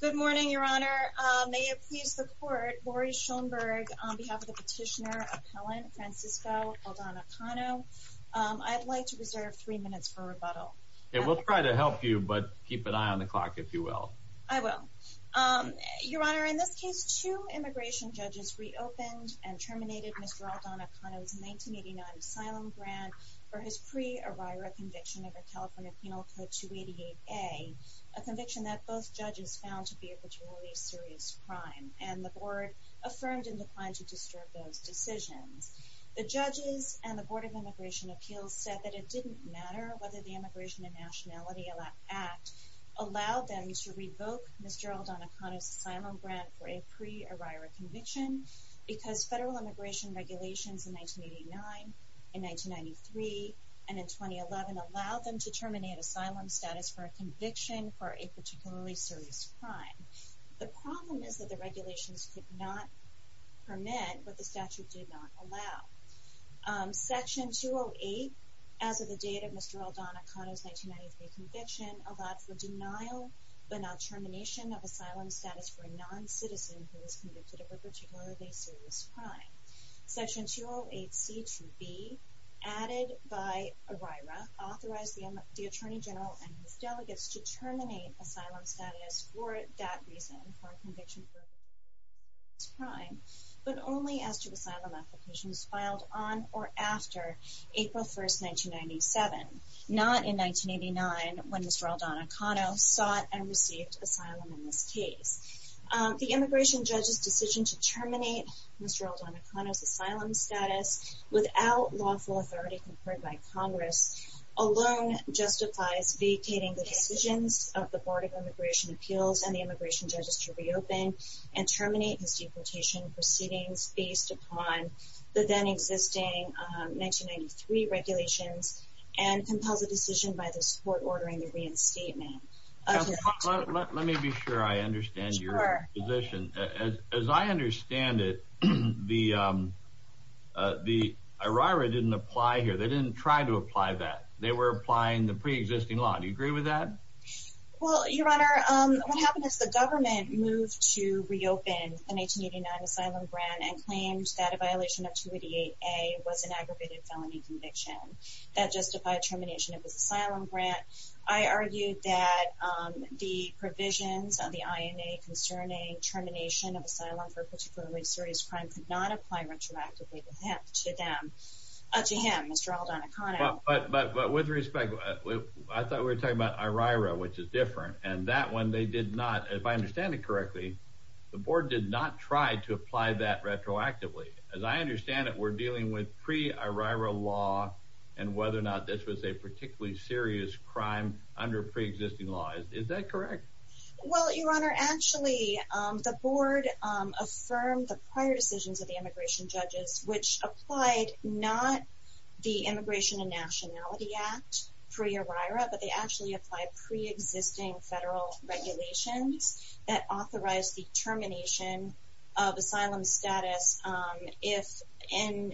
Good morning, Your Honor. May it please the Court, Boris Schoenberg, on behalf of the petitioner, appellant, Francisco Aldana-Cano, I'd like to reserve three minutes for rebuttal. We'll try to help you, but keep an eye on the clock, if you will. I will. Your Honor, in this case, two immigration judges reopened and terminated Mr. Aldana-Cano's 1989 asylum grant for his pre-Erira conviction of a California Penal Code 288A, a conviction that both judges found to be a majority serious crime, and the Board affirmed and declined to disturb those decisions. The judges and the Board of Immigration Appeals said that it didn't matter whether the Immigration and Nationality Act allowed them to revoke Mr. Aldana-Cano's asylum grant for a pre-Erira conviction, because federal immigration regulations in 1989, in 1993, and in 2011 allowed them to terminate asylum status for a conviction for a particularly serious crime. The problem is that the regulations could not permit what the statute did not allow. Section 208, as of the date of Mr. Aldana-Cano's 1993 conviction, allowed for denial but not termination of asylum status for a non-citizen who was convicted of a particularly serious crime. Section 208C to B, added by Erira, authorized the Attorney General and his delegates to terminate asylum status for that reason, for a conviction for a particularly serious crime, but only after asylum application was filed on or after April 1, 1997, not in 1989 when Mr. Aldana-Cano sought and received asylum in this case. The Immigration Judge's decision to terminate Mr. Aldana-Cano's asylum status without lawful authority conferred by Congress alone justifies vacating the decisions of the Board of Immigration Appeals and the Immigration Judges to reopen and terminate his deportation proceedings based upon the then-existing 1993 regulations, and compels a decision by this Court ordering the reinstatement. Let me be sure I understand your position. As I understand it, the Erira didn't apply here. They didn't try to apply that. They were applying the pre-existing law. Do you agree with that? Well, Your Honor, what happened is the government moved to reopen the 1989 asylum grant and claimed that a violation of 288A was an aggravated felony conviction. That justified termination of his asylum grant. I argued that the provisions of the INA concerning termination of asylum for a particularly serious crime could not apply retroactively to him, Mr. Aldana-Cano. But with respect, I thought we were talking about Erira, which is different, and that one they did not, if I understand it correctly, the Board did not try to apply that retroactively. As I understand it, we're dealing with pre-Erira law and whether or not this was a particularly serious crime under pre-existing law. Is that correct? Well, Your Honor, actually, the Board affirmed the prior decisions of the immigration judges, which applied not the Immigration and Nationality Act pre-Erira, but they actually applied pre-existing federal regulations that authorized the termination of asylum status if an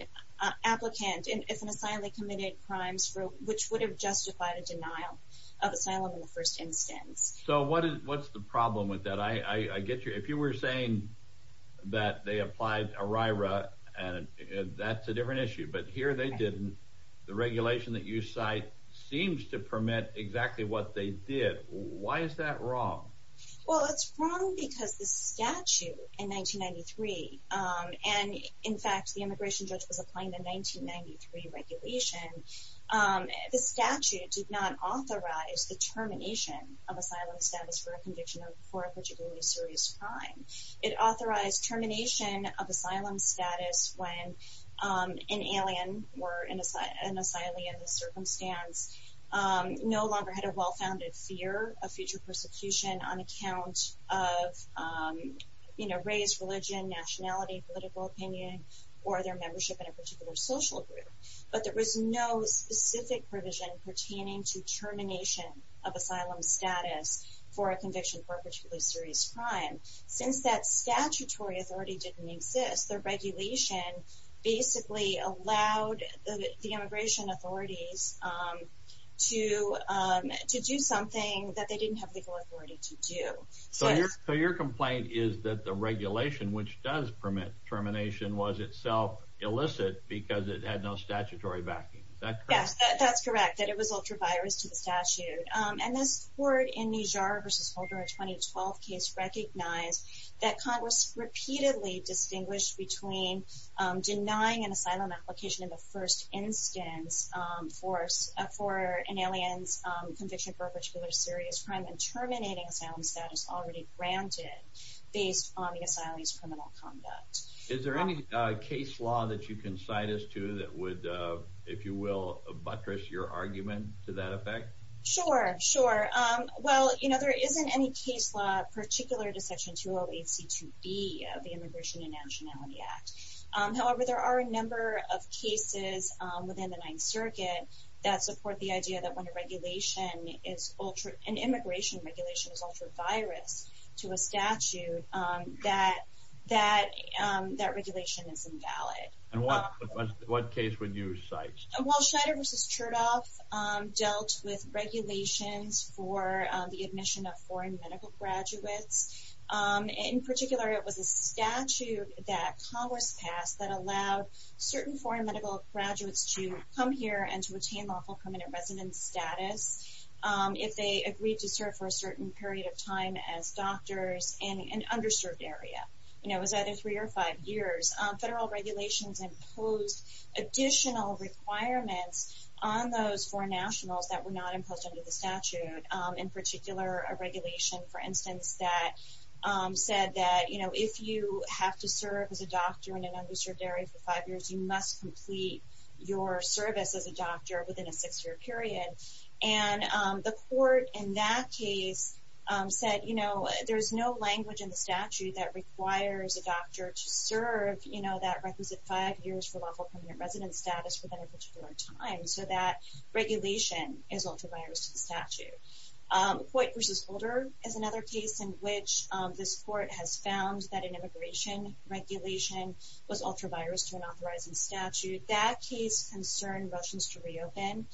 applicant, if an asylee committed crimes which would have justified a denial of asylum in the first instance. So what's the problem with that? If you were saying that they applied Erira, that's a different issue. But here they didn't. The regulation that you cite seems to permit exactly what they did. Why is that wrong? Well, it's wrong because the statute in 1993, and in fact the immigration judge was applying the 1993 regulation, the statute did not authorize the termination of asylum status for a conviction of a particularly serious crime. It authorized termination of asylum status when an alien or an asylee in this circumstance no longer had a well-founded fear of future persecution on account of race, religion, nationality, political opinion, or their membership in a particular social group. But there was no specific provision pertaining to termination of asylum status for a conviction of a particularly serious crime. Since that statutory authority didn't exist, the regulation basically allowed the immigration authorities to do something that they didn't have legal authority to do. So your complaint is that the regulation which does permit termination was itself illicit because it had no statutory backing. Is that correct? Is there any case law that you can cite us to that would, if you will, buttress your argument to that effect? Sure, sure. Well, you know, there isn't any case law particular to Section 208C2B of the Immigration and Nationality Act. However, there are a number of cases within the Ninth Circuit that support the idea that when an immigration regulation is ultra-virus to a statute, that that regulation is invalid. And what case would you cite? Well, Schneider v. Chertoff dealt with regulations for the admission of foreign medical graduates. In particular, it was a statute that Congress passed that allowed certain foreign medical graduates to come here and to attain lawful permanent residence status if they agreed to serve for a certain period of time as doctors in an underserved area. It was either three or five years. Federal regulations imposed additional requirements on those foreign nationals that were not imposed under the statute. In particular, a regulation, for instance, that said that if you have to serve as a doctor in an underserved area for five years, you must complete your service as a doctor within a six-year period. And the court in that case said, you know, there's no language in the statute that requires a doctor to serve, you know, that requisite five years for lawful permanent residence status within a particular time. So that regulation is ultra-virus to the statute. Hoyt v. Holder is another case in which this court has found that an immigration regulation was ultra-virus to an authorizing statute. That case concerned Russians to reopen.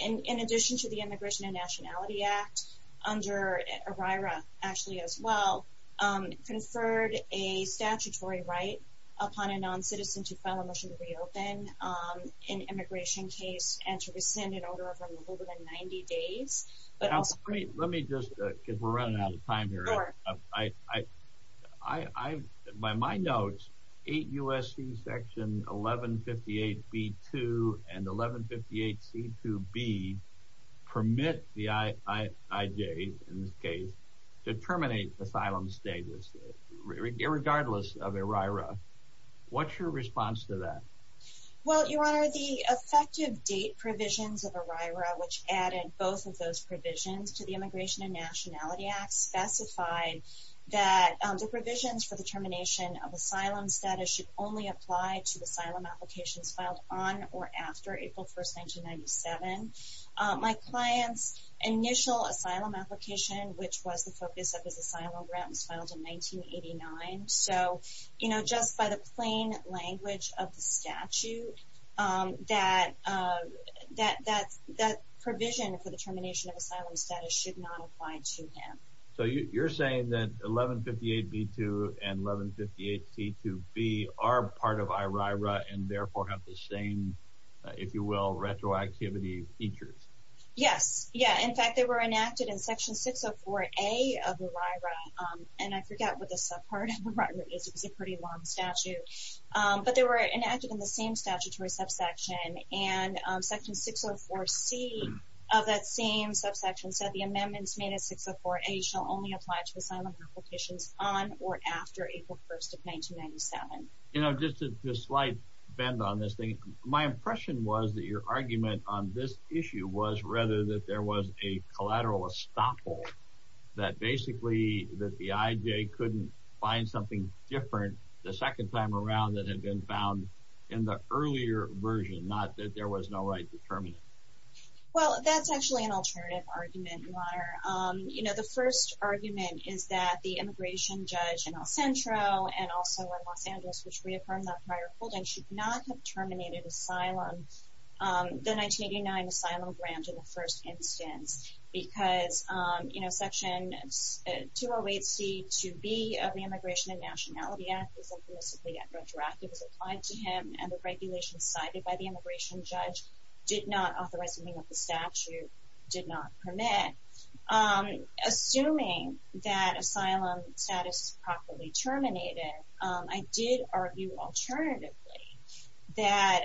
In addition to the Immigration and Nationality Act, under ERIRA, actually as well, conferred a statutory right upon a non-citizen to file a motion to reopen an immigration case and to rescind an order of removal within 90 days. Let me just, because we're running out of time here. Sure. By my notes, 8 U.S.C. Section 1158B-2 and 1158C-2B permit the I.I.J., in this case, to terminate asylum status, irregardless of ERIRA. What's your response to that? Well, Your Honor, the effective date provisions of ERIRA, which added both of those provisions to the Immigration and Nationality Act, specified that the provisions for the termination of asylum status should only apply to asylum applications filed on or after April 1, 1997. My client's initial asylum application, which was the focus of his asylum grant, was filed in 1989. So, you know, just by the plain language of the statute, that provision for the termination of asylum status should not apply to him. So you're saying that 1158B-2 and 1158C-2B are part of ERIRA and therefore have the same, if you will, retroactivity features? Yes. Yeah. In fact, they were enacted in Section 604A of ERIRA. And I forget what the subpart of ERIRA is. It's a pretty long statute. But they were enacted in the same statutory subsection. And Section 604C of that same subsection said the amendments made in 604A shall only apply to asylum applications on or after April 1, 1997. You know, just a slight bend on this thing. My impression was that your argument on this issue was rather that there was a collateral estoppel, that basically that the IJ couldn't find something different the second time around that had been found in the earlier version, not that there was no right to terminate. Well, that's actually an alternative argument, Mara. You know, the first argument is that the immigration judge in El Centro and also in Los Angeles, which reaffirmed that prior holding, should not have terminated the 1989 asylum grant in the first instance. Because, you know, Section 208C, 2B of the Immigration and Nationality Act was implicitly retroactive. It was applied to him. And the regulations cited by the immigration judge did not authorize anything that the statute did not permit. Assuming that asylum status properly terminated, I did argue alternatively that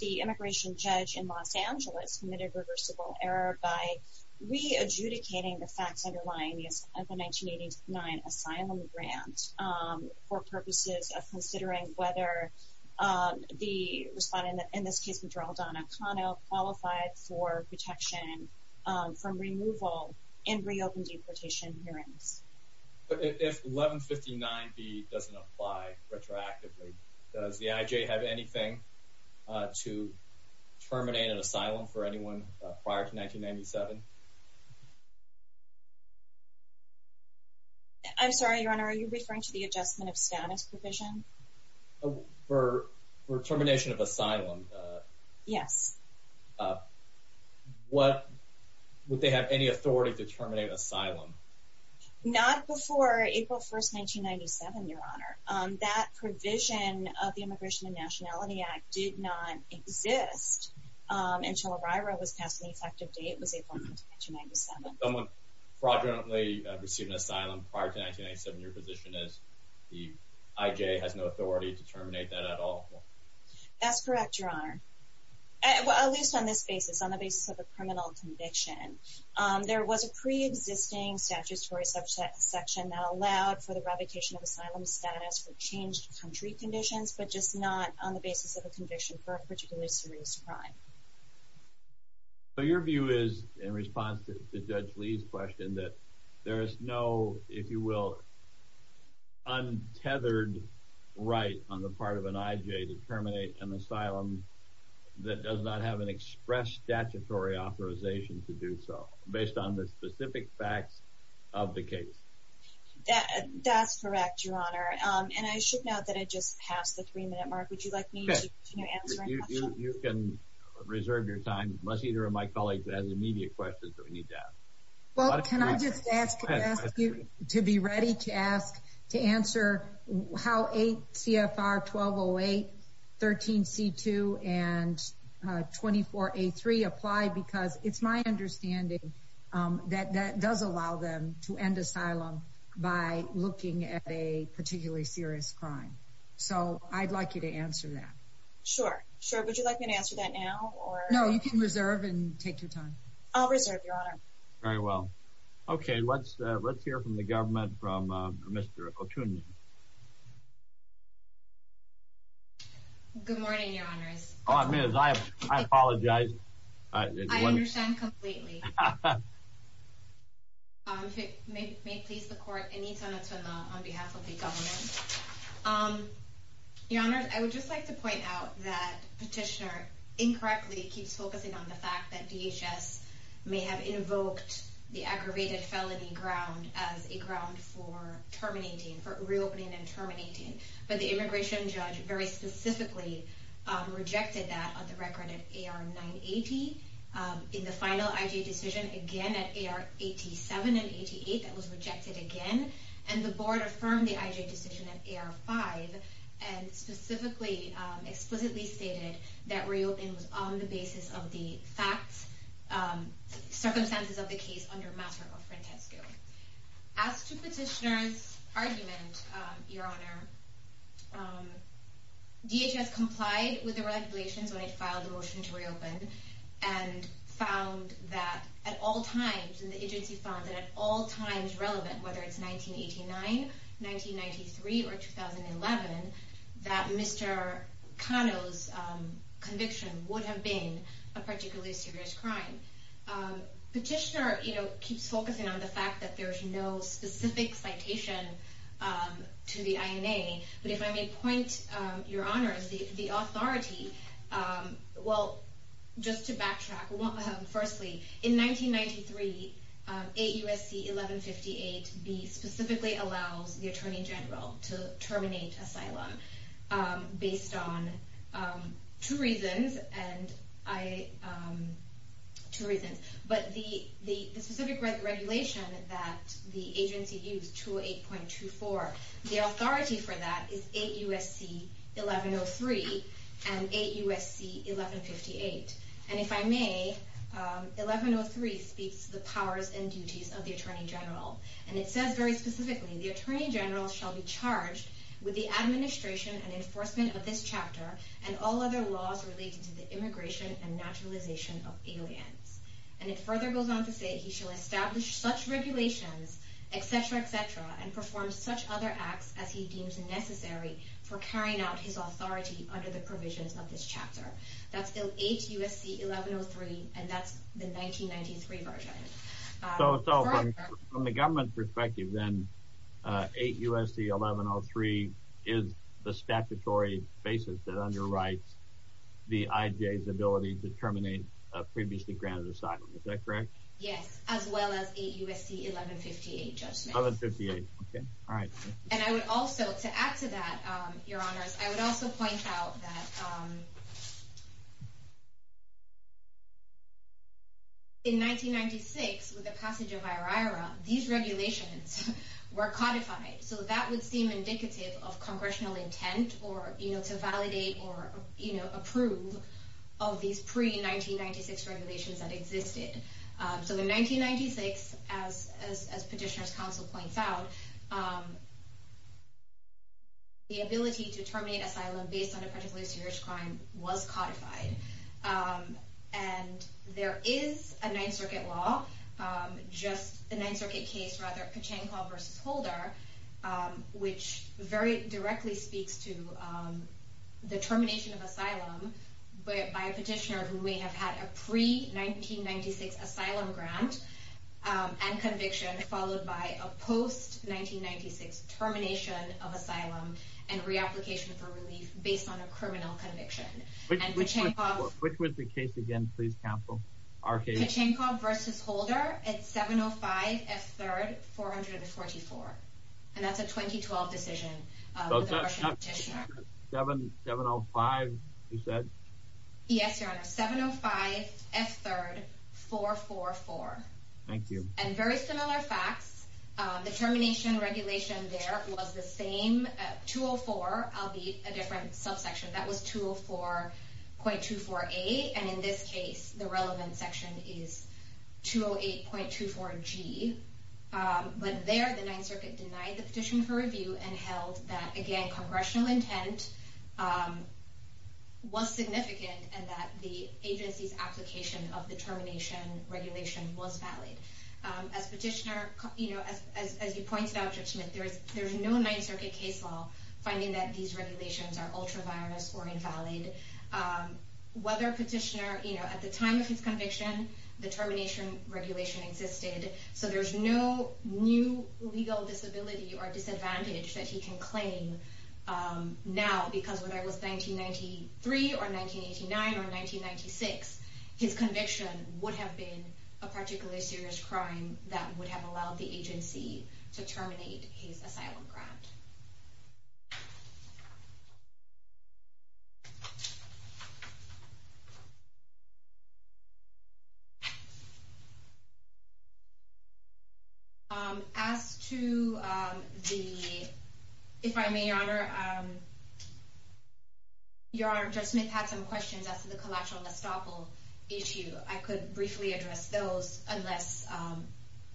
the immigration judge in Los Angeles committed reversible error by re-adjudicating the facts underlying the 1989 asylum grant for purposes of considering whether the respondent, in this case, from removal and reopened deportation hearings. But if 1159B doesn't apply retroactively, does the IJ have anything to terminate an asylum for anyone prior to 1997? I'm sorry, Your Honor, are you referring to the adjustment of status provision? For termination of asylum? Yes. Would they have any authority to terminate asylum? Not before April 1st, 1997, Your Honor. That provision of the Immigration and Nationality Act did not exist until a RIRA was passed on the effective date, which was April 1st, 1997. Someone fraudulently received an asylum prior to 1997, your position is the IJ has no authority to terminate that at all? That's correct, Your Honor. At least on this basis, on the basis of a criminal conviction. There was a pre-existing statutory section that allowed for the revocation of asylum status for changed country conditions, but just not on the basis of a conviction for a particularly serious crime. So your view is, in response to Judge Lee's question, that there is no, if you will, untethered right on the part of an IJ to terminate an asylum that does not have an express statutory authorization to do so, based on the specific facts of the case? That's correct, Your Honor. And I should note that I just passed the three-minute mark. Would you like me to continue answering questions? You can reserve your time, unless either of my colleagues has immediate questions that we need to ask. Well, can I just ask you to be ready to ask, to answer how 8 CFR 1208, 13 C2, and 24 A3 apply, because it's my understanding that that does allow them to end asylum by looking at a particularly serious crime. So I'd like you to answer that. Sure, sure. Would you like me to answer that now? No, you can reserve and take your time. I'll reserve, Your Honor. Very well. Okay, let's hear from the government, from Mr. O'Toole. Good morning, Your Honors. I apologize. I understand completely. If it may please the Court, Anita Natsumla on behalf of the government. Your Honors, I would just like to point out that Petitioner incorrectly keeps focusing on the fact that DHS may have invoked the aggravated felony ground as a ground for terminating, for reopening and terminating. But the immigration judge very specifically rejected that on the record at AR 980. In the final IJ decision, again at AR 87 and 88, that was rejected again. And the Board affirmed the IJ decision at AR 5 and specifically, explicitly stated that reopening was on the basis of the facts, circumstances of the case under matter of frontesco. As to Petitioner's argument, Your Honor, DHS complied with the regulations when it filed the motion to reopen and found that at all times, and the agency found that at all times relevant, whether it's 1989, 1993, or 2011, that Mr. Cano's conviction would have been a particularly serious crime. Petitioner, you know, keeps focusing on the fact that there's no specific citation to the INA. But if I may point, Your Honors, the authority, well, just to backtrack, firstly, in 1993, 8 U.S.C. 1158b specifically allows the Attorney General to terminate asylum based on two reasons. Two reasons. But the specific regulation that the agency used, 208.24, the authority for that is 8 U.S.C. 1103 and 8 U.S.C. 1158. And if I may, 1103 speaks to the powers and duties of the Attorney General. And it says very specifically, the Attorney General shall be charged with the administration and enforcement of this chapter and all other laws related to the immigration and naturalization of aliens. And it further goes on to say he shall establish such regulations, etc., etc., and perform such other acts as he deems necessary for carrying out his authority under the provisions of this chapter. That's 8 U.S.C. 1103, and that's the 1993 version. So from the government perspective, then, 8 U.S.C. 1103 is the statutory basis that underwrites the IJA's ability to terminate a previously granted asylum, is that correct? Yes, as well as 8 U.S.C. 1158 judgment. 1158, okay, all right. And I would also, to add to that, Your Honors, I would also point out that in 1996, with the passage of IRIRA, these regulations were codified. So that would seem indicative of congressional intent or, you know, to validate or, you know, approve of these pre-1996 regulations that existed. So in 1996, as Petitioner's Counsel points out, the ability to terminate asylum based on a particularly serious crime was codified. And there is a Ninth Circuit law, just the Ninth Circuit case, rather, Pachanko v. Holder, which very directly speaks to the termination of asylum by a petitioner who may have had a pre-1996 asylum grant and conviction, followed by a post-1996 termination of asylum and reapplication for relief based on a criminal conviction. Which was the case again, please, Counsel, our case? Pachanko v. Holder at 705 F. 3rd, 444. And that's a 2012 decision with a Russian petitioner. 705, you said? Yes, Your Honor, 705 F. 3rd, 444. Thank you. And very similar facts, the termination regulation there was the same, 204, albeit a different subsection, that was 204.24a. And in this case, the relevant section is 208.24g. But there, the Ninth Circuit denied the petition for review and held that, again, congressional intent was significant and that the agency's application of the termination regulation was valid. As Petitioner, as you pointed out, Judge Smith, there's no Ninth Circuit case law finding that these regulations are ultra-virus or invalid. Whether Petitioner, at the time of his conviction, the termination regulation existed. So there's no new legal disability or disadvantage that he can claim now. Because whether it was 1993 or 1989 or 1996, his conviction would have been a particularly serious crime that would have allowed the agency to terminate his asylum grant. As to the, if I may, Your Honor, Your Honor, Judge Smith had some questions as to the collateral estoppel issue. I could briefly address those unless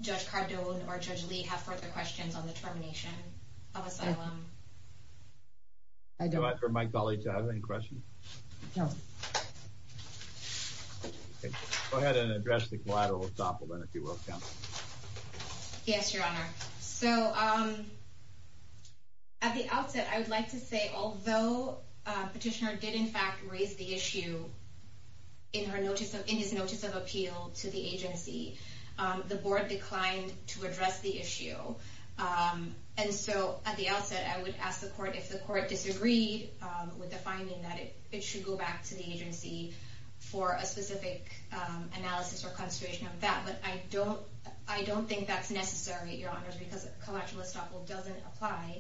Judge Cardone or Judge Lee have further questions on the termination of asylum. Go ahead and address the collateral estoppel, then, if you will. Yes, Your Honor. So at the outset, I would like to say, although Petitioner did, in fact, raise the issue in his notice of appeal to the agency, the board declined to address the issue. And so at the outset, I would ask the court if the court disagreed with the finding that it should go back to the agency for a specific analysis or consideration of that. But I don't think that's necessary, Your Honors, because collateral estoppel doesn't apply.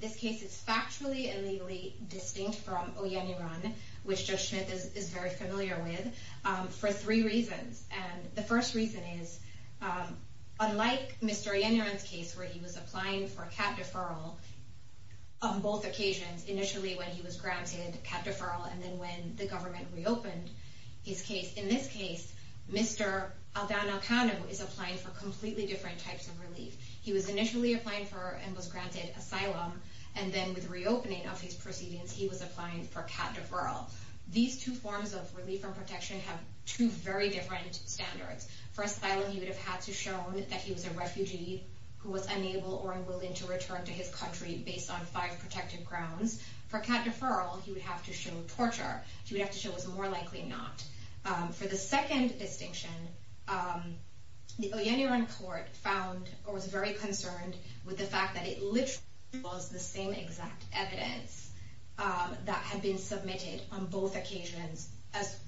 This case is factually and legally distinct from Oyeniran, which Judge Smith is very familiar with, for three reasons. And the first reason is, unlike Mr. Oyeniran's case, where he was applying for cat deferral on both occasions, initially when he was granted cat deferral and then when the government reopened his case, in this case, Mr. Aldana Kanu is applying for completely different types of relief. He was initially applying for and was granted asylum, and then with reopening of his proceedings, he was applying for cat deferral. These two forms of relief and protection have two very different standards. For asylum, he would have had to show that he was a refugee who was unable or unwilling to return to his country based on five protected grounds. For cat deferral, he would have to show torture. He would have to show it was more likely not. For the second distinction, the Oyeniran court found or was very concerned with the fact that it literally was the same exact evidence that had been submitted on both occasions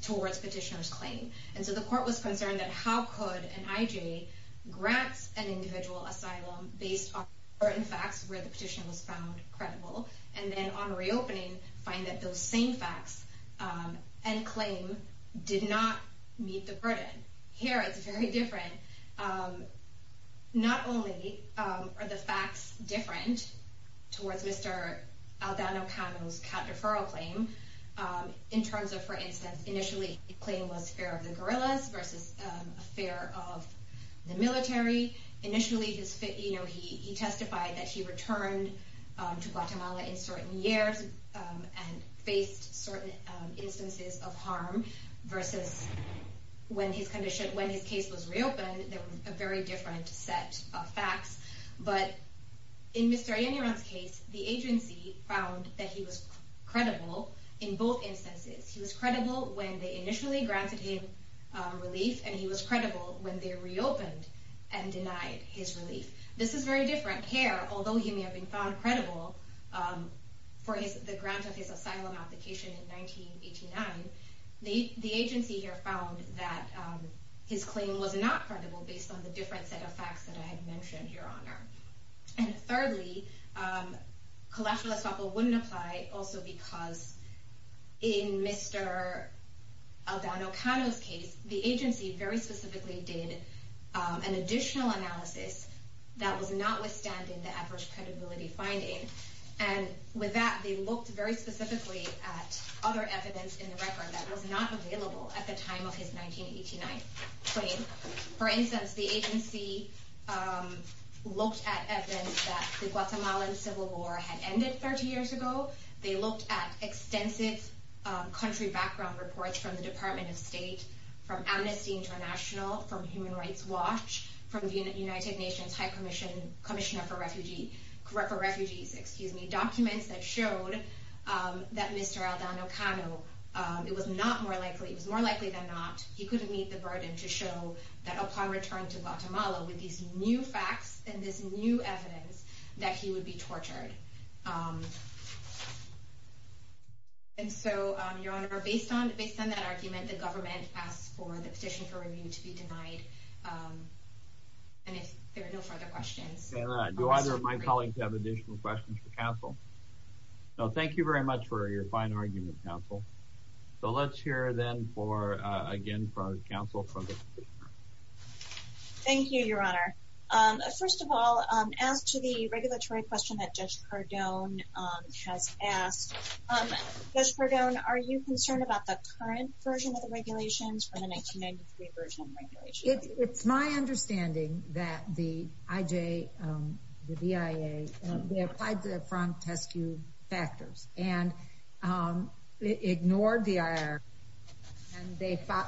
towards petitioner's claim. And so the court was concerned that how could an IJ grant an individual asylum based on certain facts where the petition was found credible, and then on reopening, find that those same facts and claim did not meet the burden. Here, it's very different. Not only are the facts different towards Mr. Aldana Kanu's cat deferral claim, in terms of, for instance, initially, the claim was fear of the guerrillas versus fear of the military. Initially, he testified that he returned to Guatemala in certain years and faced certain instances of harm versus when his case was reopened, there was a very different set of facts. But in Mr. Oyeniran's case, the agency found that he was credible in both instances. He was credible when they initially granted him relief, and he was credible when they reopened and denied his relief. This is very different. Here, although he may have been found credible for the grant of his asylum application in 1989, the agency here found that his claim was not credible based on the different set of facts that I had mentioned, Your Honor. And thirdly, collateral estoppel wouldn't apply also because in Mr. Aldana Kanu's case, the agency very specifically did an additional analysis that was notwithstanding the average credibility finding. And with that, they looked very specifically at other evidence in the record that was not available at the time of his 1989 claim. For instance, the agency looked at evidence that the Guatemalan Civil War had ended 30 years ago. They looked at extensive country background reports from the Department of State, from Amnesty International, from Human Rights Watch, from the United Nations High Commissioner for Refugees, documents that showed that Mr. Aldana Kanu, it was not more likely, it was more likely than not, he couldn't meet the burden to show that upon return to Guatemala with these new facts and this new evidence, that he would be tortured. And so, Your Honor, based on that argument, the government asked for the petition for review to be denied. And if there are no further questions. Do either of my colleagues have additional questions for counsel? No, thank you very much for your fine argument, counsel. So let's hear then for, again, counsel from the petitioner. Thank you, Your Honor. First of all, as to the regulatory question that Judge Cardone has asked, Judge Cardone, are you concerned about the current version of the regulations from the 1993 version of the regulations? It's my understanding that the IJ, the BIA, they applied the Frank Teskew factors and ignored the IR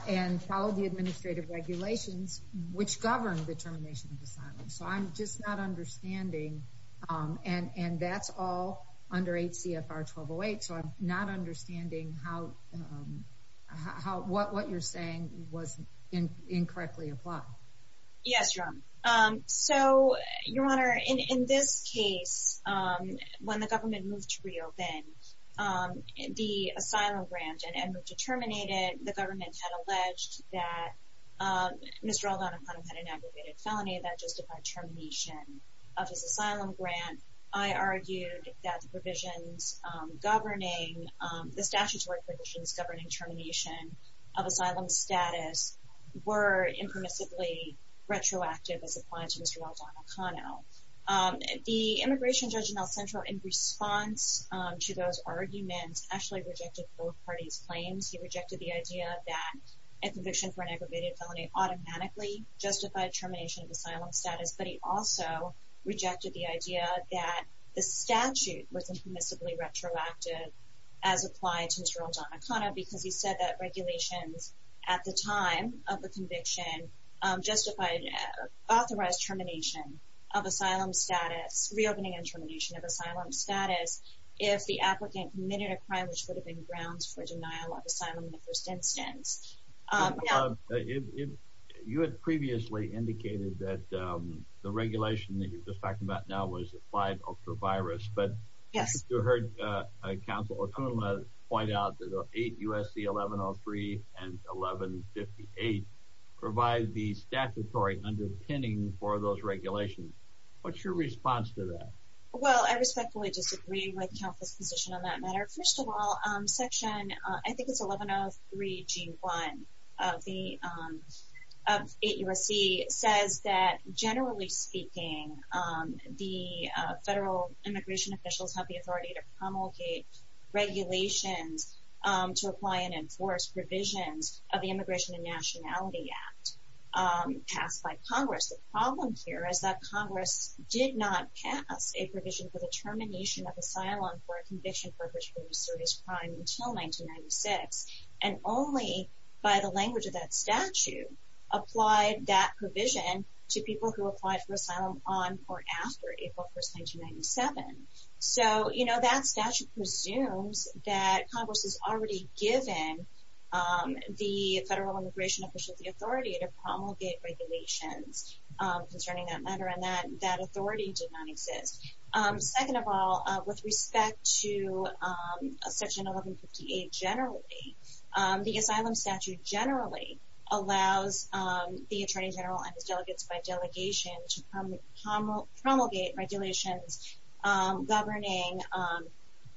and followed the administrative regulations, which govern the termination of assignments. So I'm just not understanding, and that's all under HCFR 1208, so I'm not understanding how, what you're saying was incorrectly applied. Yes, Your Honor. So, Your Honor, in this case, when the government moved to reopen the asylum grant and moved to terminate it, the government had alleged that Mr. Aldonopoulos had an aggravated felony that justified termination of his asylum grant. I argued that the provisions governing, the statutory provisions governing termination of asylum status were impermissibly retroactive as applied to Mr. Aldonopoulos. The immigration judge in El Centro, in response to those arguments, actually rejected both parties' claims. He rejected the idea that a conviction for an aggravated felony automatically justified termination of asylum status, but he also rejected the idea that the statute was impermissibly retroactive as applied to Mr. Aldonopoulos, because he said that regulations at the time of the conviction justified authorized termination of asylum status, reopening and termination of asylum status, if the applicant committed a crime which would have been grounds for denial of asylum in the first instance. Your Honor, you had previously indicated that the regulation that you're just talking about now was applied ultra-virus. Yes. But you heard Counsel O'Connell point out that 8 U.S.C. 1103 and 1158 provide the statutory underpinning for those regulations. What's your response to that? Well, I respectfully disagree with Counsel's position on that matter. First of all, Section, I think it's 1103G1 of 8 U.S.C. says that, generally speaking, the federal immigration officials have the authority to promulgate regulations to apply and enforce provisions of the Immigration and Nationality Act passed by Congress. The problem here is that Congress did not pass a provision for the termination of asylum for a conviction purpose for a serious crime until 1996, and only by the language of that statute applied that provision to people who applied for asylum on or after April 1, 1997. So, you know, that statute presumes that Congress has already given the federal immigration officials the authority to promulgate regulations concerning that matter, and that authority did not exist. Second of all, with respect to Section 1158 generally, the asylum statute generally allows the Attorney General and his delegates by delegation to promulgate regulations governing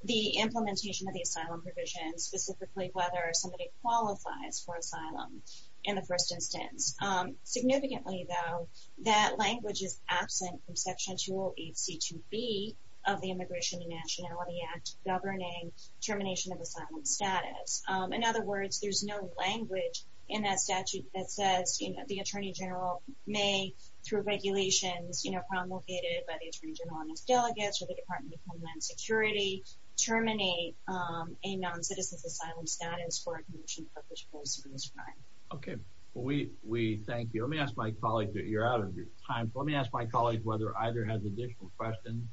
the implementation of the asylum provision, specifically whether somebody qualifies for asylum in the first instance. Significantly, though, that language is absent from Section 208C2B of the Immigration and Nationality Act governing termination of asylum status. In other words, there's no language in that statute that says the Attorney General may, through regulations promulgated by the Attorney General and his delegates or the Department of Homeland Security, terminate a non-citizen's asylum status for a conviction purpose for a serious crime. Okay. Well, we thank you. Let me ask my colleague, you're out of time, but let me ask my colleague whether either has additional questions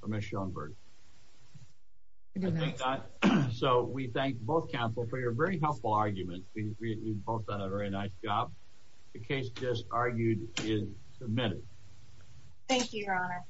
for Ms. Schoenberg. I do not. So, we thank both counsel for your very helpful arguments. We both did a very nice job. The case just argued is submitted. Thank you, Your Honor.